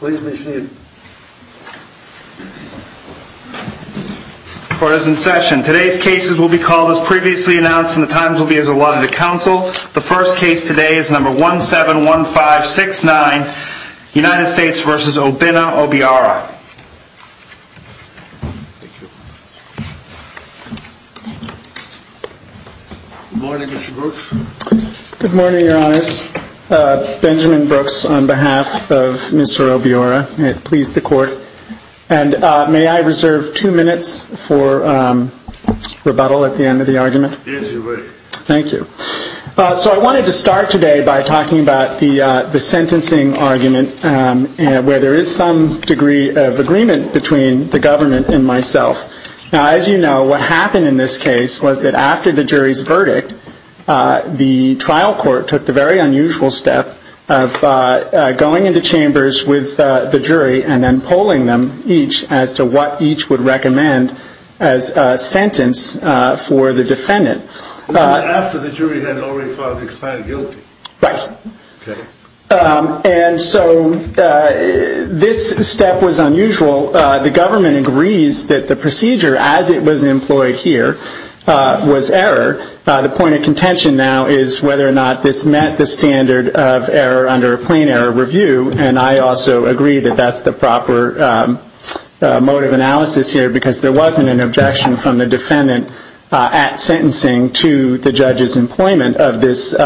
Good morning, Mr. Brooks. Good morning, your honors. Benjamin Brooks on behalf of Mrs. Obiora. May it please the court. And may I reserve two minutes for rebuttal at the end of the argument. Thank you. So I wanted to start today by talking about the sentencing argument where there is some degree of agreement between the government and myself. Now, as you know, what happened in this case was that after the jury's verdict, the trial court took the very unusual step of going into chambers with the jury and then polling them each as to what each would recommend as a sentence for the defendant. And so this step was unusual. The government agrees that the procedure as it was employed here was error. The point of contention now is whether or not this met the standard of error under a plain error review. And I also agree that that's the proper mode of analysis here because there wasn't an objection from the defendant at sentencing to the judge's employment of this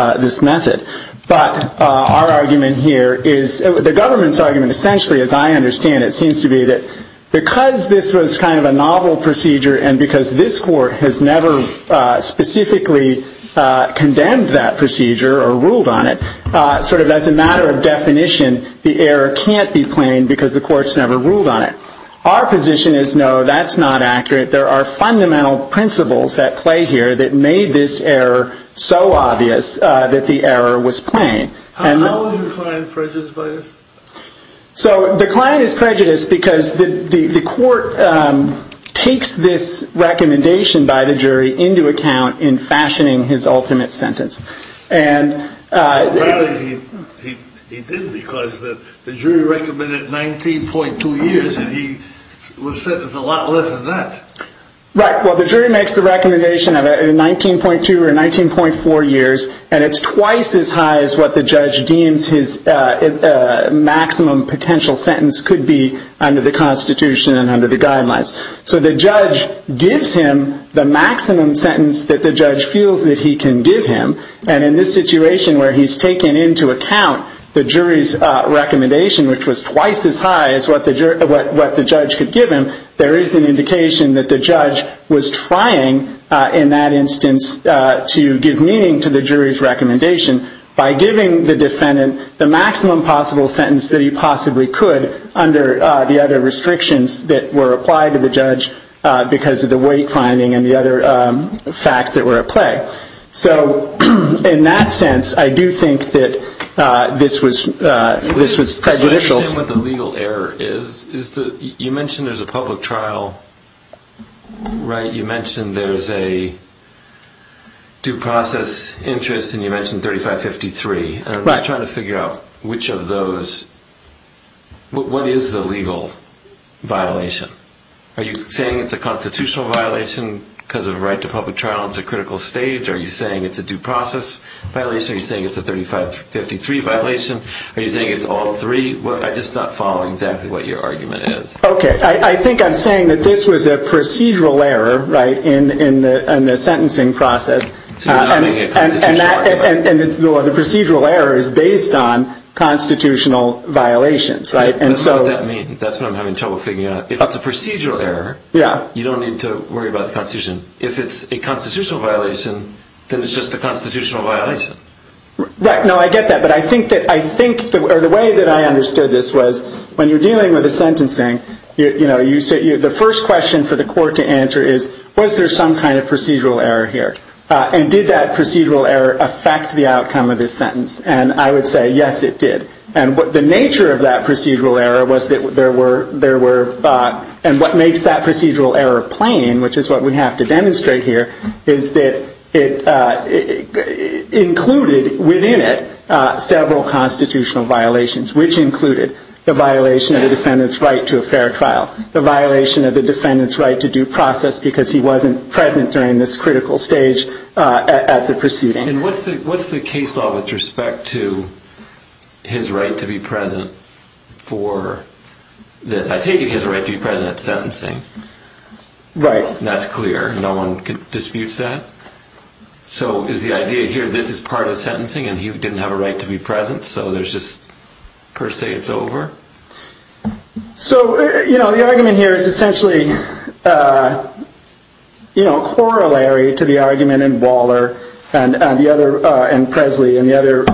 method. But our argument here is, the government's argument essentially, as I understand it, seems to be that because this was kind of a novel procedure and because this court has never specifically condemned that procedure or ruled on it, sort of as a matter of definition, the error can't be plain because the court's never ruled on it. Our position is, no, that's not accurate. There are fundamental principles at play here that made this error so obvious that the error was plain. So the client is prejudiced because the court takes this recommendation by the jury into account in fashioning his ultimate sentence. And he did because the jury recommended 19.2 years and he was sentenced a lot less than that. Right. Well, the jury makes the recommendation of 19.2 or 19.4 years and it's twice as high as what the judge deems his maximum potential sentence could be under the Constitution and under the guidelines. So the judge gives him the maximum sentence that the judge feels that he can give him. And in this situation where he's taking into account the jury's recommendation, which was twice as high as what the judge could give him, there is an indication that the judge was trying, in that instance, to give meaning to the jury's recommendation by giving the defendant the maximum possible sentence that he possibly could under the restrictions that were applied to the judge because of the weight finding and the other facts that were at play. So in that sense, I do think that this was prejudicial. I understand what the legal error is. You mentioned there's a public trial, right? You mentioned there's a due process interest and you mentioned 3553. I'm just trying to figure out which of those, what is the legal violation? Are you saying it's a constitutional violation because of the right to public trial? It's a critical stage. Are you saying it's a due process violation? Are you saying it's a 3553 violation? Are you saying it's all three? I'm just not following exactly what your argument is. Okay. I think I'm saying that this was a procedural error, right, in the sentencing process and the procedural error is based on constitutional violations, right? That's what I'm having trouble figuring out. If it's a procedural error, you don't need to worry about the constitution. If it's a constitutional violation, then it's just a constitutional violation. No, I get that, but I think that the way that I understood this was when you're dealing with a sentencing, the first question for the court to answer is, was there some kind of procedural error here? And did that procedural error affect the outcome of this sentence? And I would say, yes, it did. And what the nature of that procedural error was that there were, and what makes that procedural error plain, which is what we have to demonstrate here, is that it included within it several constitutional violations, which included the violation of the defendant's right to a fair trial, the violation of the defendant's right to due process because he wasn't present during this critical stage at the proceeding. And what's the case law with respect to his right to be present for this? I take it he has a right to be present at sentencing. Right. That's clear. No one disputes that. So is the idea here, this is part of sentencing and he didn't have a right to be present, so there's just per se it's over? So, you know, the argument here is essentially, you know, corollary to the argument in Waller and Presley and the other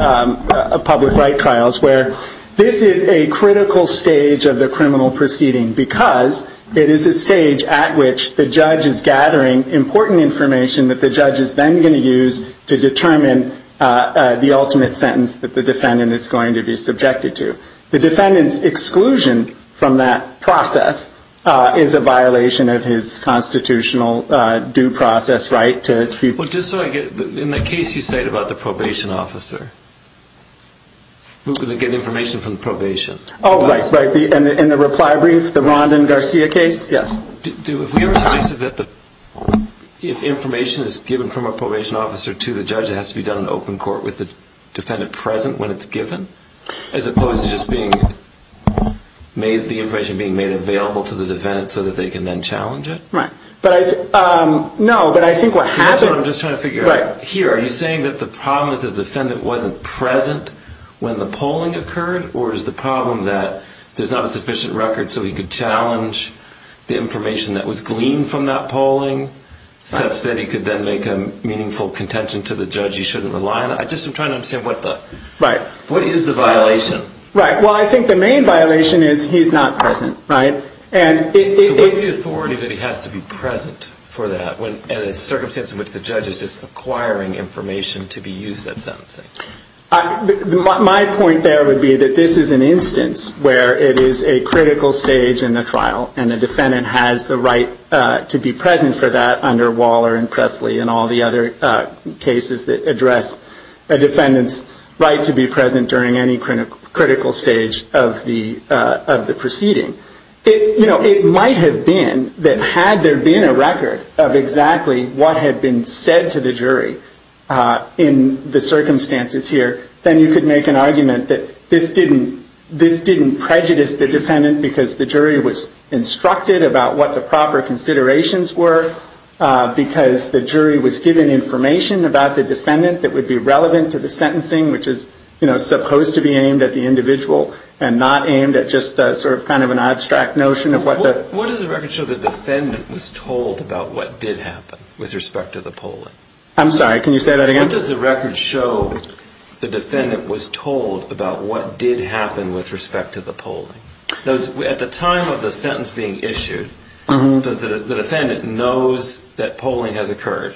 public right trials where this is a critical stage of the criminal proceeding because it is a stage at which the judge is gathering important information that the judge is then going to use to determine the ultimate sentence that the defendant is going to be subjected to. The defendant's exclusion from that process is a violation of his constitutional due process right to... Well, just so I get, in the case you cite about the probation officer, who can get information from the probation? Oh, right, right. In the reply brief, the Rondon Garcia case? Yes. Do, have we ever suggested that if information is given from a probation officer to the judge it has to be done in open court with the defendant present when it's given? As opposed to just being made, the information being made available to the defendant so that they can then challenge it? Right. But I, no, but I think what happened... See, that's what I'm just trying to figure out. Here, are you saying that the problem is the defendant wasn't present when the polling occurred or is the problem that there's not a sufficient record so he could challenge the information that was gleaned from that I just am trying to understand what the... Right. What is the violation? Right. Well, I think the main violation is he's not present, right? And it... So what's the authority that he has to be present for that when, in a circumstance in which the judge is just acquiring information to be used at sentencing? My point there would be that this is an instance where it is a critical stage in the trial and the defendant has the right to be present for that under Waller and Presley and all the other cases that address a defendant's right to be present during any critical stage of the proceeding. You know, it might have been that had there been a record of exactly what had been said to the jury in the circumstances here, then you could make an argument that this didn't prejudice the defendant because the jury was instructed about what the proper considerations were, because the jury was given information about the defendant that would be relevant to the sentencing, which is, you know, supposed to be aimed at the individual and not aimed at just sort of kind of an abstract notion of what the... What does the record show the defendant was told about what did happen with respect to the polling? I'm sorry, can you say that again? What does the record show the defendant was told about what did happen with respect to the polling? At the time of the sentence being issued, does the defendant knows that polling has occurred?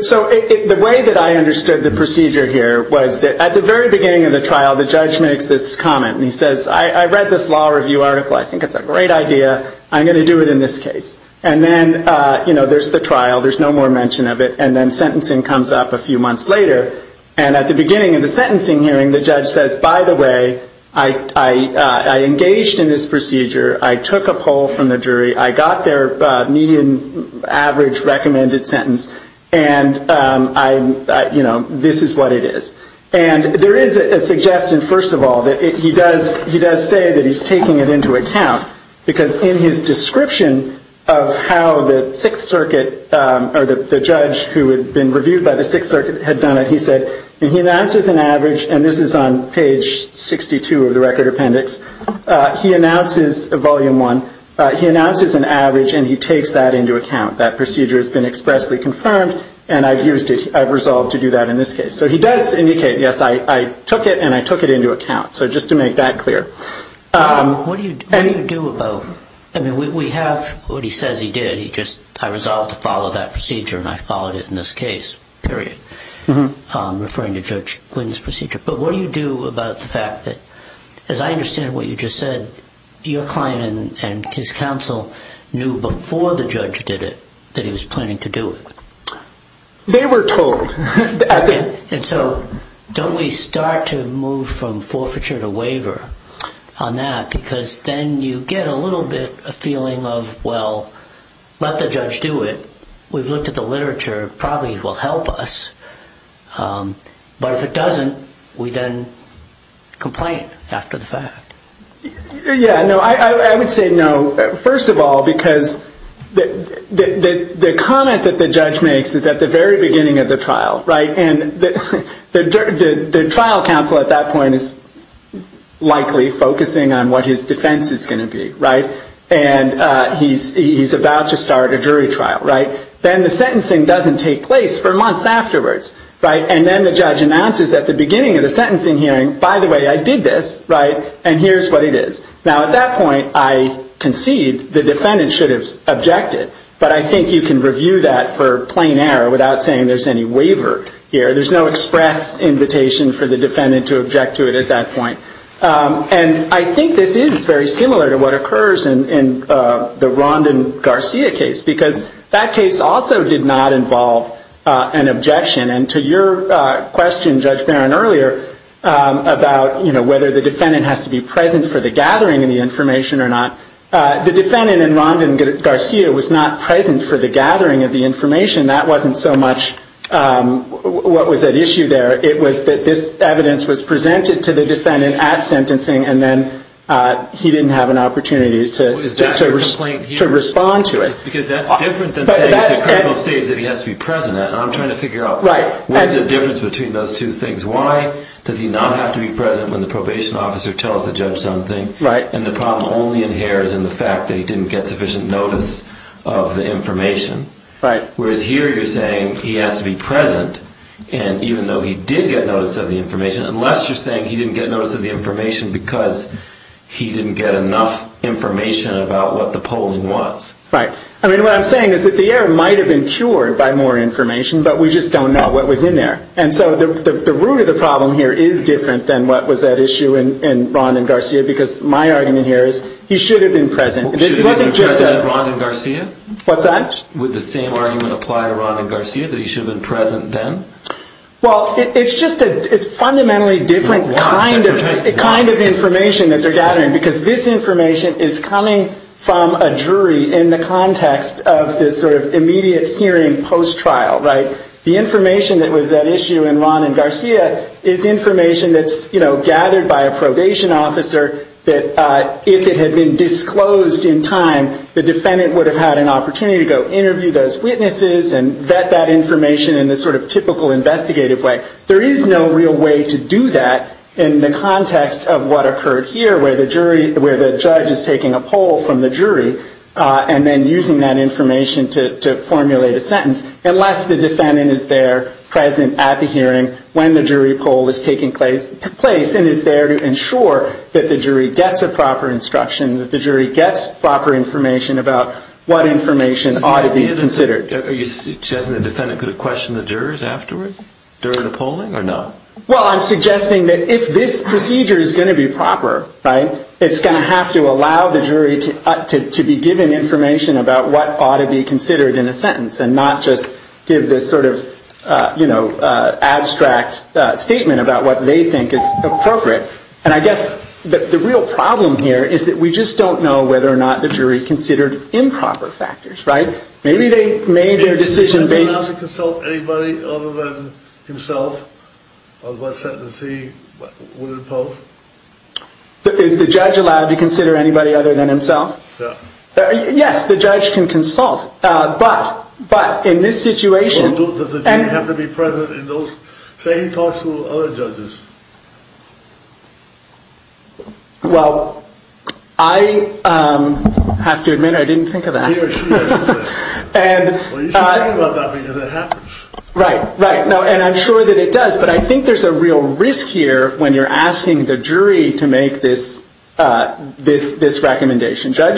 So the way that I understood the procedure here was that at the very beginning of the trial, the judge makes this comment and he says, I read this law review article, I think it's a great idea, I'm going to do it in this case. And then, you know, there's the trial, there's no more mention of it, and then sentencing comes up a few months later. And at the beginning of the sentencing hearing, the judge says, by the way, I engaged in this procedure, I took a poll from the jury, I got their median average recommended sentence, and I, you know, this is what it is. And there is a suggestion, first of all, that he does say that he's taking it into account, because in his description of how the Sixth Circuit, or the judge who had been reviewed by the Sixth Circuit, had done it, he said, he announces an average, and this is on page 62 of the record appendix, he announces, volume one, he announces an average and he takes that into account. That procedure has been expressly confirmed, and I've used it, I've resolved to do that in this case. So he does indicate, yes, I took it and I took it into account. So just to make that clear. What do you do about, I mean, we have, what he says he did, he just, I resolved to follow that procedure and I followed it in this case, period, referring to Judge Quinn's procedure. But what do you do about the fact that, as I understand what you just said, your client and his counsel knew before the judge did it, that he was planning to do it. They were told. And so, don't we start to move from forfeiture to waiver on that, because then you get a little bit, a feeling of, well, let the judge do it, we've looked at the literature, probably it will help us, but if it doesn't, we then complain after the fact. Yeah, no, I would say no, first of all, because the comment that the judge makes is at the very beginning of the trial, right, and the trial counsel at that point is likely focusing on what his defense is going to be, right, and he's about to start a jury trial, right, then the sentencing doesn't take place for months afterwards, right, and then the judge announces at the beginning of the sentencing hearing, by the way, I did this, right, and here's what it is. Now, at that point, I concede the defendant should have objected, but I think you can review that for plain error without saying there's any waiver here. There's no express invitation for the defendant to object to it at that point. And I think this is very similar to what occurs in the Rondon Garcia case, because that case also did not involve an objection, and to your question, Judge Barron, earlier about, you know, whether the defendant has to be present for the gathering of the information or not, the defendant in Rondon Garcia was not present for the gathering of the information, that wasn't so much what was at issue there, it was that this evidence was presented to the defendant at sentencing and then he didn't have an opportunity to respond to it. Because that's different than saying it's a critical stage that he has to be present at, and I'm trying to figure out what's the difference between those two things. Why does he not have to be present when the probation officer tells the judge something, and the problem only inheres in the fact that he didn't get sufficient notice of the information, whereas here you're saying he has to be present, and even though he did get notice of the information, unless you're saying he didn't get notice of the information because he didn't get enough information about what the polling was. Right. I mean, what I'm saying is that the error might have been cured by more information, but we just don't know what was in there. And so the root of the problem here is different than what was at issue in Rondon Garcia, because my argument here is he should have been present, and this wasn't just a... Should he have been present at Rondon Garcia? What's that? Would the same argument apply to Rondon Garcia, that he should have been present then? Well, it's just a fundamentally different kind of information that they're gathering, because this information is coming from a jury in the context of this sort of immediate hearing post-trial, right? The information that was at issue in Rondon Garcia is information that's gathered by a probation officer that, if it had been disclosed in time, the defendant would have had an opportunity to go interview those witnesses and vet that information in the sort of typical investigative way. There is no real way to do that in the context of what occurred here, where the judge is taking a poll from the jury and then using that information to formulate a sentence, unless the defendant is there present at the hearing when the jury poll is taking place and is there to ensure that the jury gets a proper instruction, that the jury gets proper information about what information ought to be considered. So you're suggesting the defendant could have questioned the jurors afterwards, during the polling, or not? Well, I'm suggesting that if this procedure is going to be proper, it's going to have to allow the jury to be given information about what ought to be considered in a sentence and not just give this sort of abstract statement about what they think is appropriate. And I guess the real problem here is that we just don't know whether or not the jury considered improper factors, right? Maybe they made their decision based on... Is the judge allowed to consult anybody other than himself on what sentence he would impose? Is the judge allowed to consider anybody other than himself? Yes, the judge can consult, but in this situation... Well, I have to admit I didn't think of that. Well, you should think about that, because it happens. Right, right. And I'm sure that it does, but I think there's a real risk here when you're asking the jury to make this recommendation. The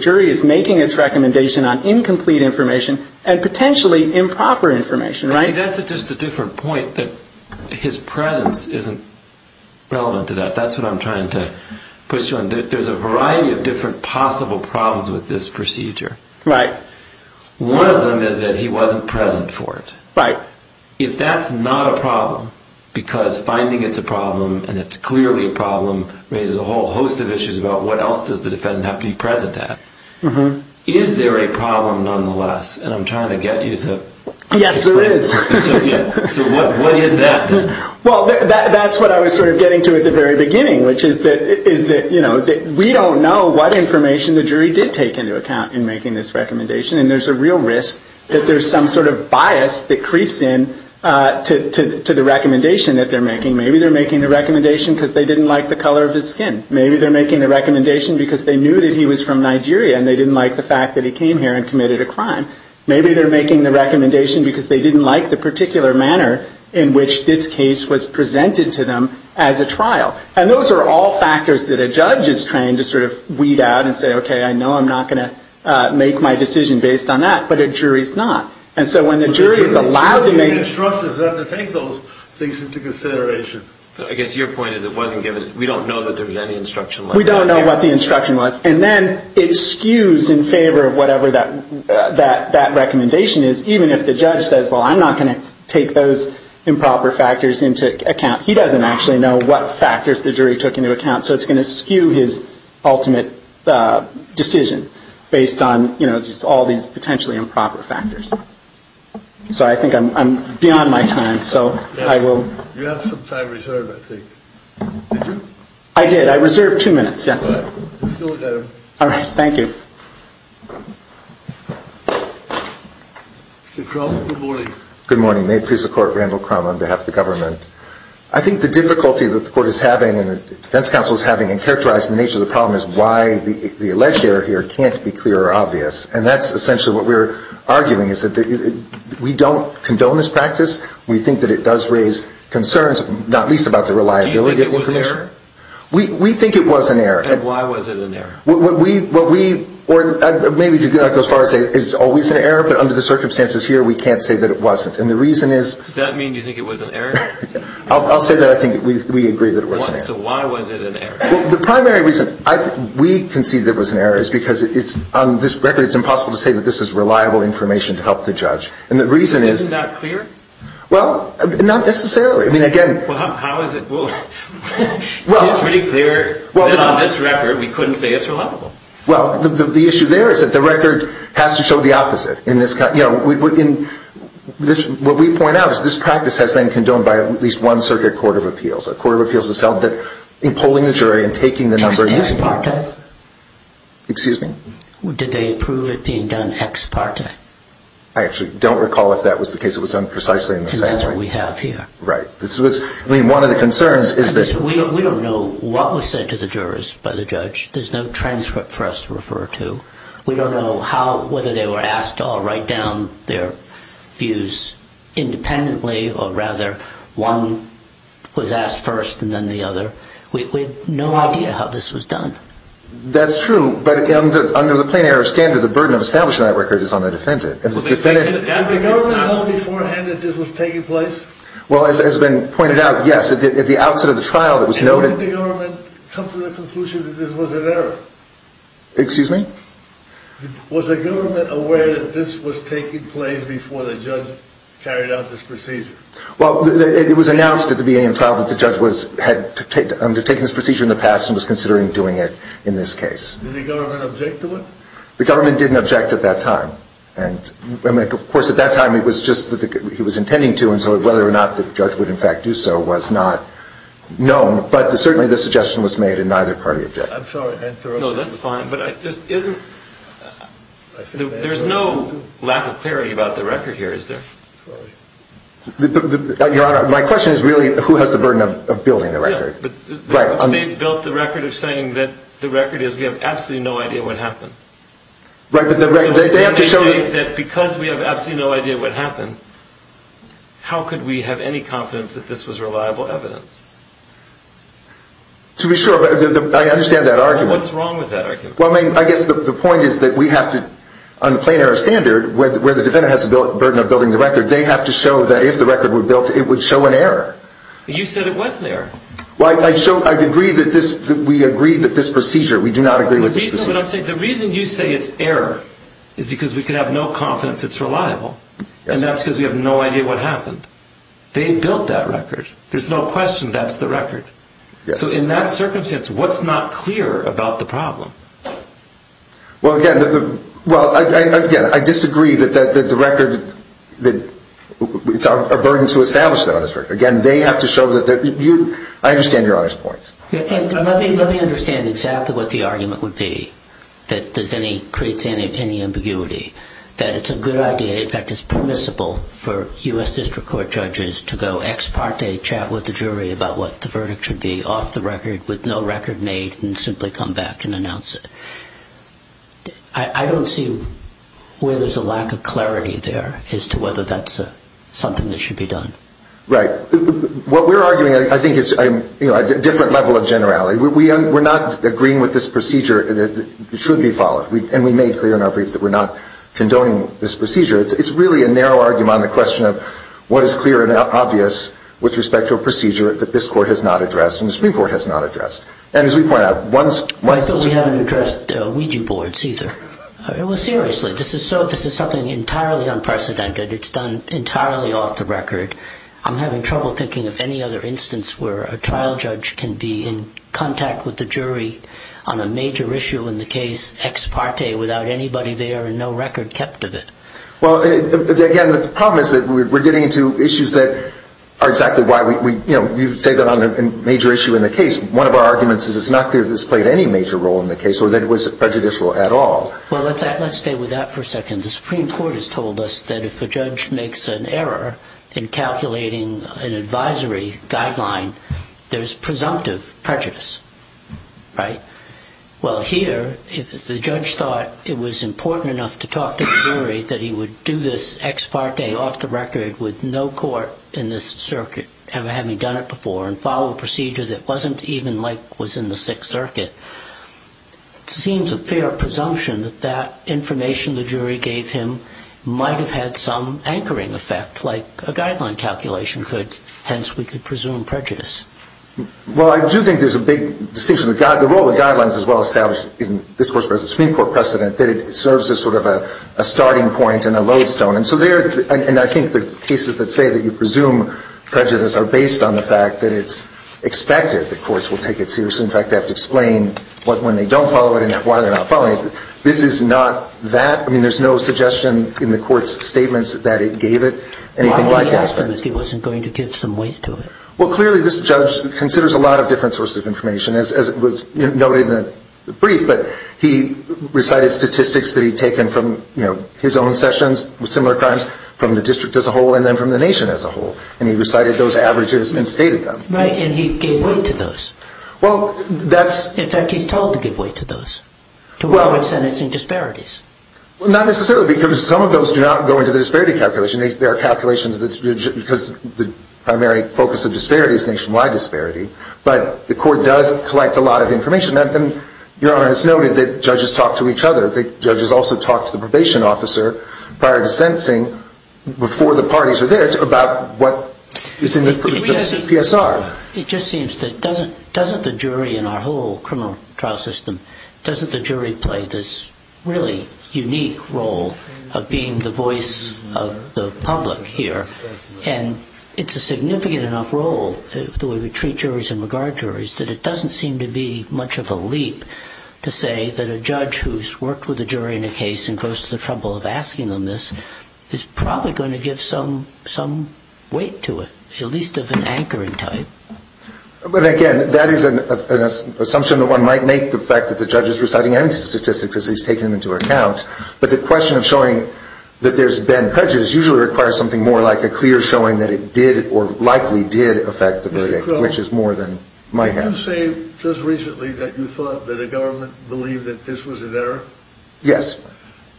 jury is making its recommendation on incomplete information and potentially improper information, right? See, that's just a different point, that his presence isn't relevant to that. That's what I'm trying to push you on. There's a variety of different possible problems with this procedure. One of them is that he wasn't present for it. If that's not a problem, because finding it's a problem and it's clearly a problem raises a whole host of issues about what else does the defendant have to be present at. Is there a problem nonetheless? And I'm trying to get you to explain it to me. Yes, there is. So what is that then? Well, that's what I was sort of getting to at the very beginning, which is that we don't know what information the jury did take into account in making this recommendation, and there's a real risk that there's some sort of bias that creeps in to the recommendation that they're making. Maybe they're making the recommendation because they didn't like the color of his skin. Maybe they're making the recommendation because they knew that he was from Nigeria and they didn't like the fact that he came here and committed a crime. Maybe they're making the recommendation because they didn't like the particular manner in which this case was presented to them as a trial. And those are all factors that a judge is trained to sort of weed out and say, okay, I know I'm not going to make my decision based on that, but a jury's not. And so when the jury is allowed to make- But I guess your point is it wasn't given, we don't know that there was any instruction like that. We don't know what the instruction was. And then it skews in favor of whatever that recommendation is, even if the judge says, well, I'm not going to take those improper factors into account. He doesn't actually know what factors the jury took into account, so it's going to skew his ultimate decision based on, you know, just all these potentially improper factors. So I think I'm beyond my time, so I will- You have some time reserved, I think. Did you? I did. I reserved two minutes, yes. All right. You still have time. All right. Thank you. Mr. Crum, good morning. Good morning. May it please the Court, Randall Crum on behalf of the government. I think the difficulty that the Court is having and the defense counsel is having in characterizing the nature of the problem is why the alleged error here can't be clear or obvious. And that's essentially what we're arguing, is that we don't condone this practice. We think that it does raise concerns, not least about the reliability of the information. Do you think it was an error? We think it was an error. And why was it an error? What we- or maybe to go as far as to say it's always an error, but under the circumstances here we can't say that it wasn't. And the reason is- Does that mean you think it was an error? I'll say that I think we agree that it was an error. So why was it an error? Well, the primary reason we concede that it was an error is because it's- on this record, it's impossible to say that this is reliable information to help the judge. And the reason is- Isn't that clear? Well, not necessarily. I mean, again- Well, how is it- well, it seems pretty clear that on this record, we couldn't say it's reliable. Well, the issue there is that the record has to show the opposite. In this- you know, what we point out is this practice has been condoned by at least one circuit court of appeals. A court of appeals has held that in polling the jury and taking the number- Ex parte. Excuse me? Did they approve it being done ex parte? I don't recall. I don't recall. I don't recall. I don't recall. I don't recall. I don't recall. And that's what we have here. Right. I mean, one of the concerns is that- We don't know what was said to the jurors by the judge. There's no transcript for us to refer to. We don't know how- whether they were asked to all write down their views independently or rather one was asked first and then the other. We have no idea how this was done. That's true. But under the plain error standard, the burden of establishing that record is on the defendant. But the defendant- Did the government know beforehand that this was taking place? Well, as has been pointed out, yes. At the outset of the trial, it was noted- And when did the government come to the conclusion that this was an error? Excuse me? Was the government aware that this was taking place before the judge carried out this procedure? Well, it was announced at the beginning of the trial that the judge had undertaken this procedure in the past and was considering doing it in this case. Did the government object to it? The government didn't object at that time. And of course, at that time, it was just that he was intending to and so whether or not the judge would in fact do so was not known. But certainly, the suggestion was made and neither party objected. I'm sorry. No, that's fine. But isn't- there's no lack of clarity about the record here, is there? Sorry. Your Honor, my question is really who has the burden of building the record? Yeah. But they built the record of saying that the record is we have absolutely no idea what happened. Right. But they have to show- So when they say that because we have absolutely no idea what happened, how could we have any confidence that this was reliable evidence? To be sure. I understand that argument. Well, what's wrong with that argument? Well, I mean, I guess the point is that we have to- on the plain error standard, where the defendant has the burden of building the record, they have to show that if the record were built, it would show an error. You said it wasn't there. Well, I show- I agree that this- we agree that this procedure- we do not agree with this procedure. But I'm saying the reason you say it's error is because we can have no confidence it's reliable. Yes. And that's because we have no idea what happened. They built that record. There's no question that's the record. Yes. So in that circumstance, what's not clear about the problem? Well, again, the- well, again, I disagree that the record- that it's our burden to establish that on this record. Again, they have to show that they're- you- I understand Your Honor's point. Let me- let me understand exactly what the argument would be that there's any- creates any ambiguity, that it's a good idea, in fact, it's permissible for U.S. District Court judges to go ex parte, chat with the jury about what the verdict should be off the record with no record made, and simply come back and announce it. I don't see where there's a lack of clarity there as to whether that's something that should be done. Right. What we're arguing, I think, is a different level of generality. We're not agreeing with this procedure that should be followed. And we made clear in our brief that we're not condoning this procedure. It's really a narrow argument on the question of what is clear and obvious with respect to a procedure that this Court has not addressed and the Supreme Court has not addressed. And as we point out, once- I thought we hadn't addressed Ouija boards either. Well, seriously, this is something entirely unprecedented. It's done entirely off the record. I'm having trouble thinking of any other instance where a trial judge can be in contact with the jury on a major issue in the case, ex parte, without anybody there and no record kept of it. Well, again, the problem is that we're getting into issues that are exactly why we, you know, you say that on a major issue in the case. One of our arguments is it's not clear that this played any major role in the case or that it was prejudicial at all. Well, let's stay with that for a second. The Supreme Court has told us that if a judge makes an error in calculating an advisory guideline, there's presumptive prejudice, right? Well, here, if the judge thought it was important enough to talk to the jury that he would do this ex parte off the record with no court in this circuit ever having done it before and follow a procedure that wasn't even like was in the Sixth Circuit, it seems a fair presumption that that information the jury gave him might have had some anchoring effect, like a guideline calculation could, hence, we could presume prejudice. Well, I do think there's a big distinction. The role of the guidelines is well established in this Court's Supreme Court precedent that it serves as sort of a starting point and a lodestone. And so there, and I think the cases that say that you presume prejudice are based on the fact that it's expected that courts will take it seriously. In fact, they have to explain when they don't follow it and why they're not following it. This is not that. I mean, there's no suggestion in the Court's statements that it gave it anything like that. Why would he ask them if he wasn't going to give some weight to it? Well, clearly, this judge considers a lot of different sources of information, as was noted in the brief. But he recited statistics that he'd taken from his own sessions with similar crimes from the district as a whole and then from the nation as a whole, and he recited those averages and stated them. Right, and he gave weight to those. In fact, he's told to give weight to those, to what were sentencing disparities. Well, not necessarily, because some of those do not go into the disparity calculation. There are calculations that, because the primary focus of disparity is nationwide disparity. But the Court does collect a lot of information. And Your Honor, it's noted that judges talk to each other. The judges also talk to the probation officer prior to sentencing, before the parties are there, about what is in the PSR. It just seems that doesn't the jury in our whole criminal trial system, doesn't the jury play this really unique role of being the voice of the public here? And it's a significant enough role, the way we treat juries and regard juries, that it doesn't seem to be much of a leap to say that a judge who's worked with a jury in a case and goes to the trouble of asking them this is probably going to give some weight to it, at least of an anchoring type. But again, that is an assumption that one might make, the fact that the judge is reciting any statistics as he's taking them into account. But the question of showing that there's been prejudice usually requires something more like a clear showing that it did or likely did affect the verdict, which is more than my hand. Did you say just recently that you thought that the government believed that this was an error? Yes.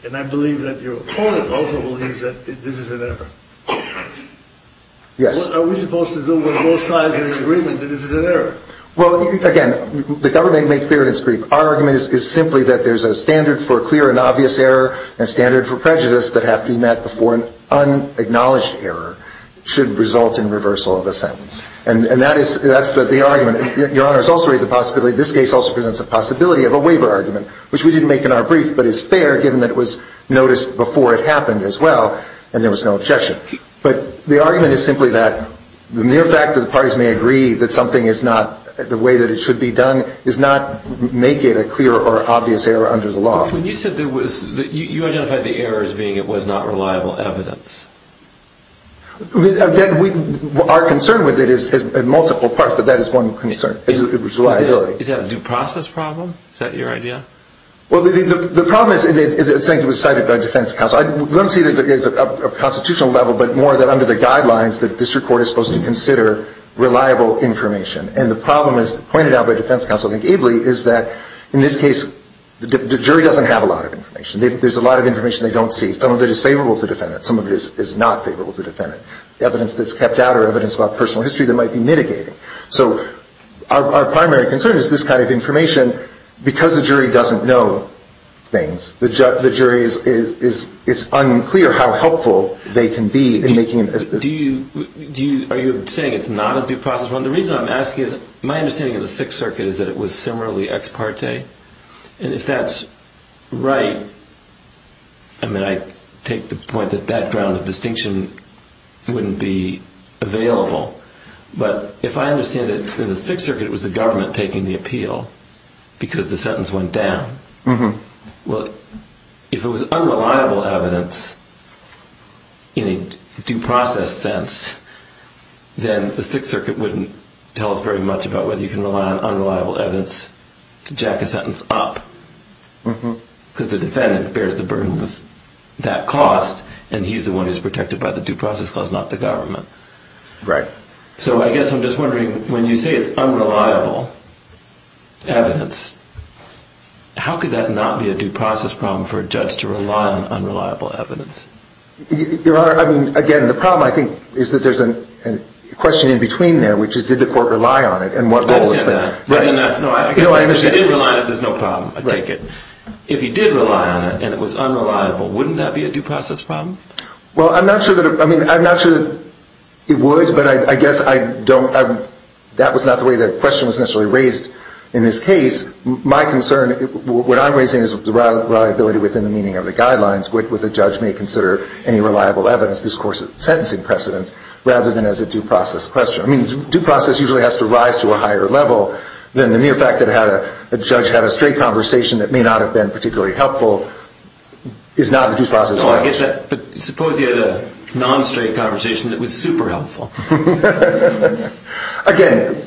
And I believe that your opponent also believes that this is an error. Yes. What are we supposed to do when both sides are in agreement that this is an error? Well, again, the government made clear in its brief. Our argument is simply that there's a standard for clear and obvious error and a standard for prejudice that have to be met before an unacknowledged error should result in reversal of a sentence. And that's the argument. Your Honor, this case also presents a possibility of a waiver argument, which we didn't make in our brief, but is fair given that it was noticed before it happened as well and there was no objection. But the argument is simply that the mere fact that the parties may agree that something is not the way that it should be done does not make it a clear or obvious error under the law. But when you said there was, you identified the error as being it was not reliable evidence. Again, our concern with it is in multiple parts, but that is one concern, is reliability. Is that a due process problem? Is that your idea? Well, the problem is it was cited by defense counsel. I don't see it as a constitutional level, but more that under the guidelines that district court is supposed to consider reliable information. And the problem, as pointed out by defense counsel, I think, Abley, is that in this case the jury doesn't have a lot of information. There's a lot of information they don't see. Some of it is favorable to defend it. Some of it is not favorable to defend it. Evidence that's kept out or evidence about personal history that might be mitigating. So our primary concern is this kind of information. Because the jury doesn't know things, it's unclear how helpful they can be in making an assessment. Are you saying it's not a due process problem? The reason I'm asking is my understanding of the Sixth Circuit is that it was similarly ex parte. And if that's right, I mean, I take the point that that ground of distinction wouldn't be available. But if I understand it, in the Sixth Circuit it was the government taking the appeal because the sentence went down. Well, if it was unreliable evidence in a due process sense, then the Sixth Circuit wouldn't tell us very much about whether you can rely on unreliable evidence to jack a sentence up. Because the defendant bears the burden of that cost, and he's the one who's protected by the due process clause, not the government. So I guess I'm just wondering, when you say it's unreliable evidence, how could that not be a due process problem for a judge to rely on unreliable evidence? Your Honor, I mean, again, the problem, I think, is that there's a question in between there, which is did the court rely on it, and what role did that play? I understand that. But then that's not, if you did rely on it, there's no problem, I take it. If you did rely on it, and it was unreliable, wouldn't that be a due process problem? Well, I'm not sure that it would, but I guess I don't, that was not the way the question was necessarily raised in this case. My concern, what I'm raising is the reliability within the meaning of the guidelines with a judge may consider any reliable evidence this court's sentencing precedence, rather than as a due process question. I mean, due process usually has to rise to a higher level than the mere fact that a judge had a straight conversation that may not have been particularly helpful is not a due process question. But suppose you had a non-straight conversation that was super helpful. Again,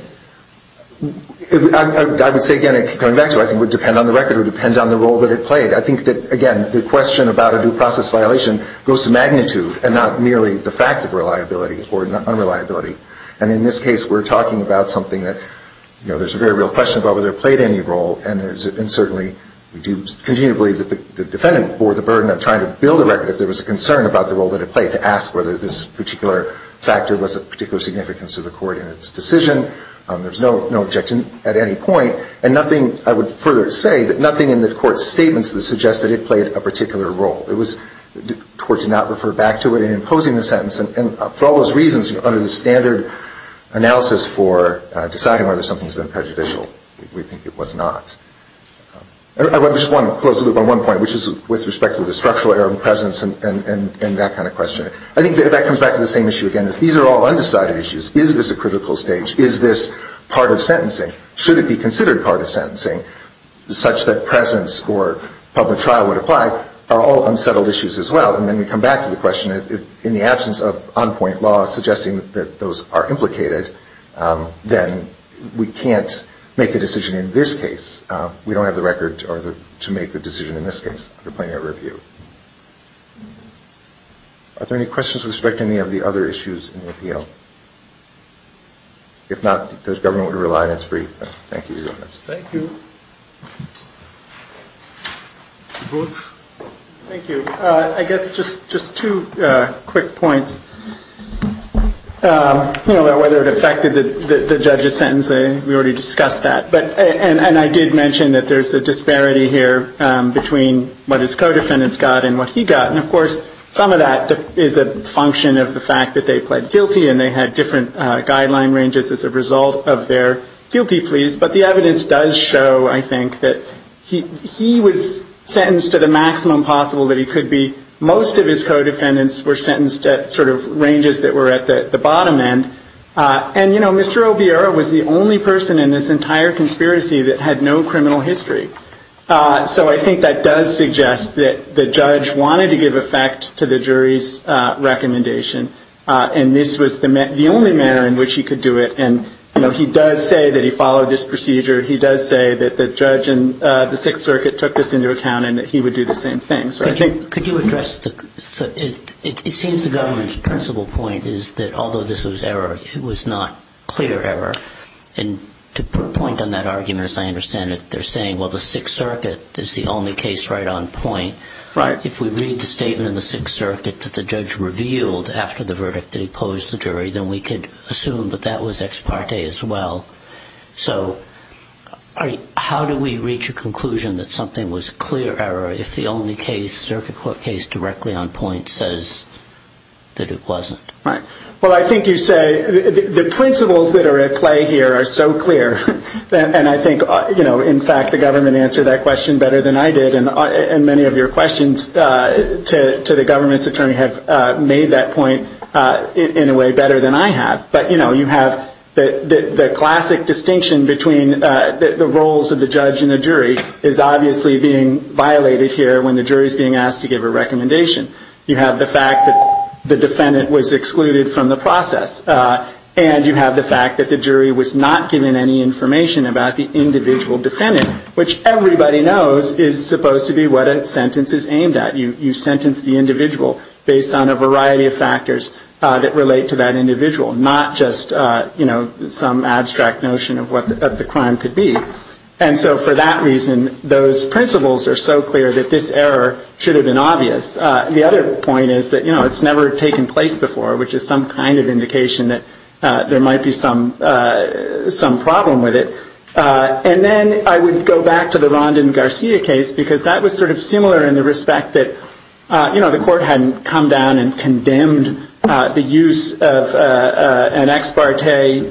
I would say, again, coming back to it, I think it would depend on the record, it would depend on the role that it played. I think that, again, the question about a due process violation goes to magnitude and not merely the fact of reliability or unreliability. And in this case, we're talking about something that, you know, there's a very real question about whether it played any role, and certainly we do continue to believe that the defendant bore the burden of trying to build a record if there was a concern about the role that it played to ask whether this particular factor was of particular significance to the court in its decision. There's no objection at any point. And nothing, I would further say, that nothing in the court's statements that suggested it played a particular role. It was, the court did not refer back to it in imposing the sentence, and for all those reasons under the standard analysis for deciding whether something's been prejudicial, we think it was not. I just want to close the loop on one point, which is with respect to the structural error in presence and that kind of question. I think that that comes back to the same issue again. These are all undecided issues. Is this a critical stage? Is this part of sentencing? Should it be considered part of sentencing such that presence or public trial would apply are all unsettled issues as well. And then we come back to the question, in the absence of on-point law suggesting that those are implicated, then we can't make a decision in this case. We don't have the record to make the decision in this case under plenary review. Are there any questions with respect to any of the other issues in the appeal? If not, the government would rely on its brief. Thank you. Thank you. Thank you. I guess just two quick points about whether it affected the judge's sentence. We already discussed that. And I did mention that there's a disparity here between what his co-defendants got and what he got. And of course, some of that is a function of the fact that they pled guilty and they had different guideline ranges as a result of their guilty pleas. But the evidence does show, I think, that he was sentenced to the maximum possible that he could be. Most of his co-defendants were sentenced at sort of ranges that were at the bottom end. And Mr. Oviera was the only person in this entire conspiracy that had no criminal history. So I think that does suggest that the judge wanted to give effect to the jury's recommendation. And this was the only manner in which he could do it. And he does say that he followed this procedure. He does say that the judge and the Sixth Circuit took this into account and that he would do the same thing. Could you address the... It seems the government's principle point is that although this was error, it was not clear error. And to put a point on that argument, as I understand it, they're saying, well, the Sixth Circuit is the only case right on point. If we read the statement in the Sixth Circuit that the judge revealed after the verdict that he posed the jury, then we could assume that that was ex parte as well. So how do we reach a conclusion that something was clear error if the only case, Circuit Court case, directly on point says that it wasn't? Right. Well, I think you say the principles that are at play here are so clear. And I think, you know, in fact, the government answered that question better than I did. And many of your questions to the government's attorney have made that point in a way better than I have. But, you know, you have the classic distinction between the roles of the judge and the jury is obviously being violated here when the jury is being asked to give a recommendation. You have the fact that the defendant was excluded from the process. And you have the fact that the jury was not given any information about the individual defendant, which everybody knows is supposed to be what a sentence is aimed at. You sentence the individual based on a variety of factors that relate to that individual, not just, you know, some abstract notion of what the crime could be. And so for that reason, those principles are so clear that this error should have been obvious. The other point is that, you know, it's never taken place before, which is some kind of indication that there might be some problem with it. And then I would go back to the Rondon Garcia case, because that was sort of similar in the respect that, you know, the court hadn't come down and condemned the use of an ex parte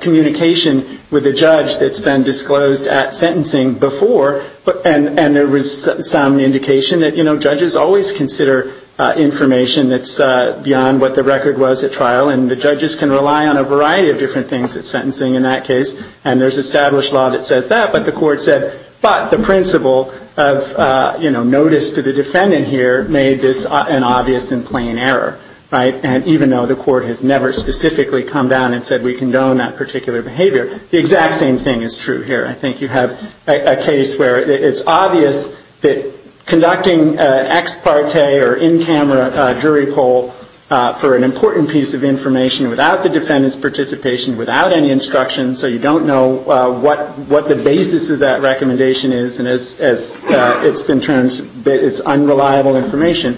communication with a judge that's been disclosed at sentencing before. And there was some indication that, you know, judges always consider information that's beyond what the record was at trial. And the judges can rely on a variety of different things at sentencing in that case. And there's established law that says that. But the court said, but the principle of, you know, notice to the defendant here made this an obvious and plain error, right? And even though the court has never specifically come down and said we condone that particular behavior, the exact same thing is true here. I think you have a case where it's obvious that conducting an ex parte or in-camera jury poll for an important piece of information without the defendant's participation, without any instruction, so you don't know what the basis of that recommendation is, and as it's been termed as unreliable information,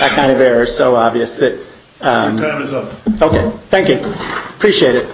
that kind of error is so obvious that... Your time is up. Okay. Thank you. Appreciate it.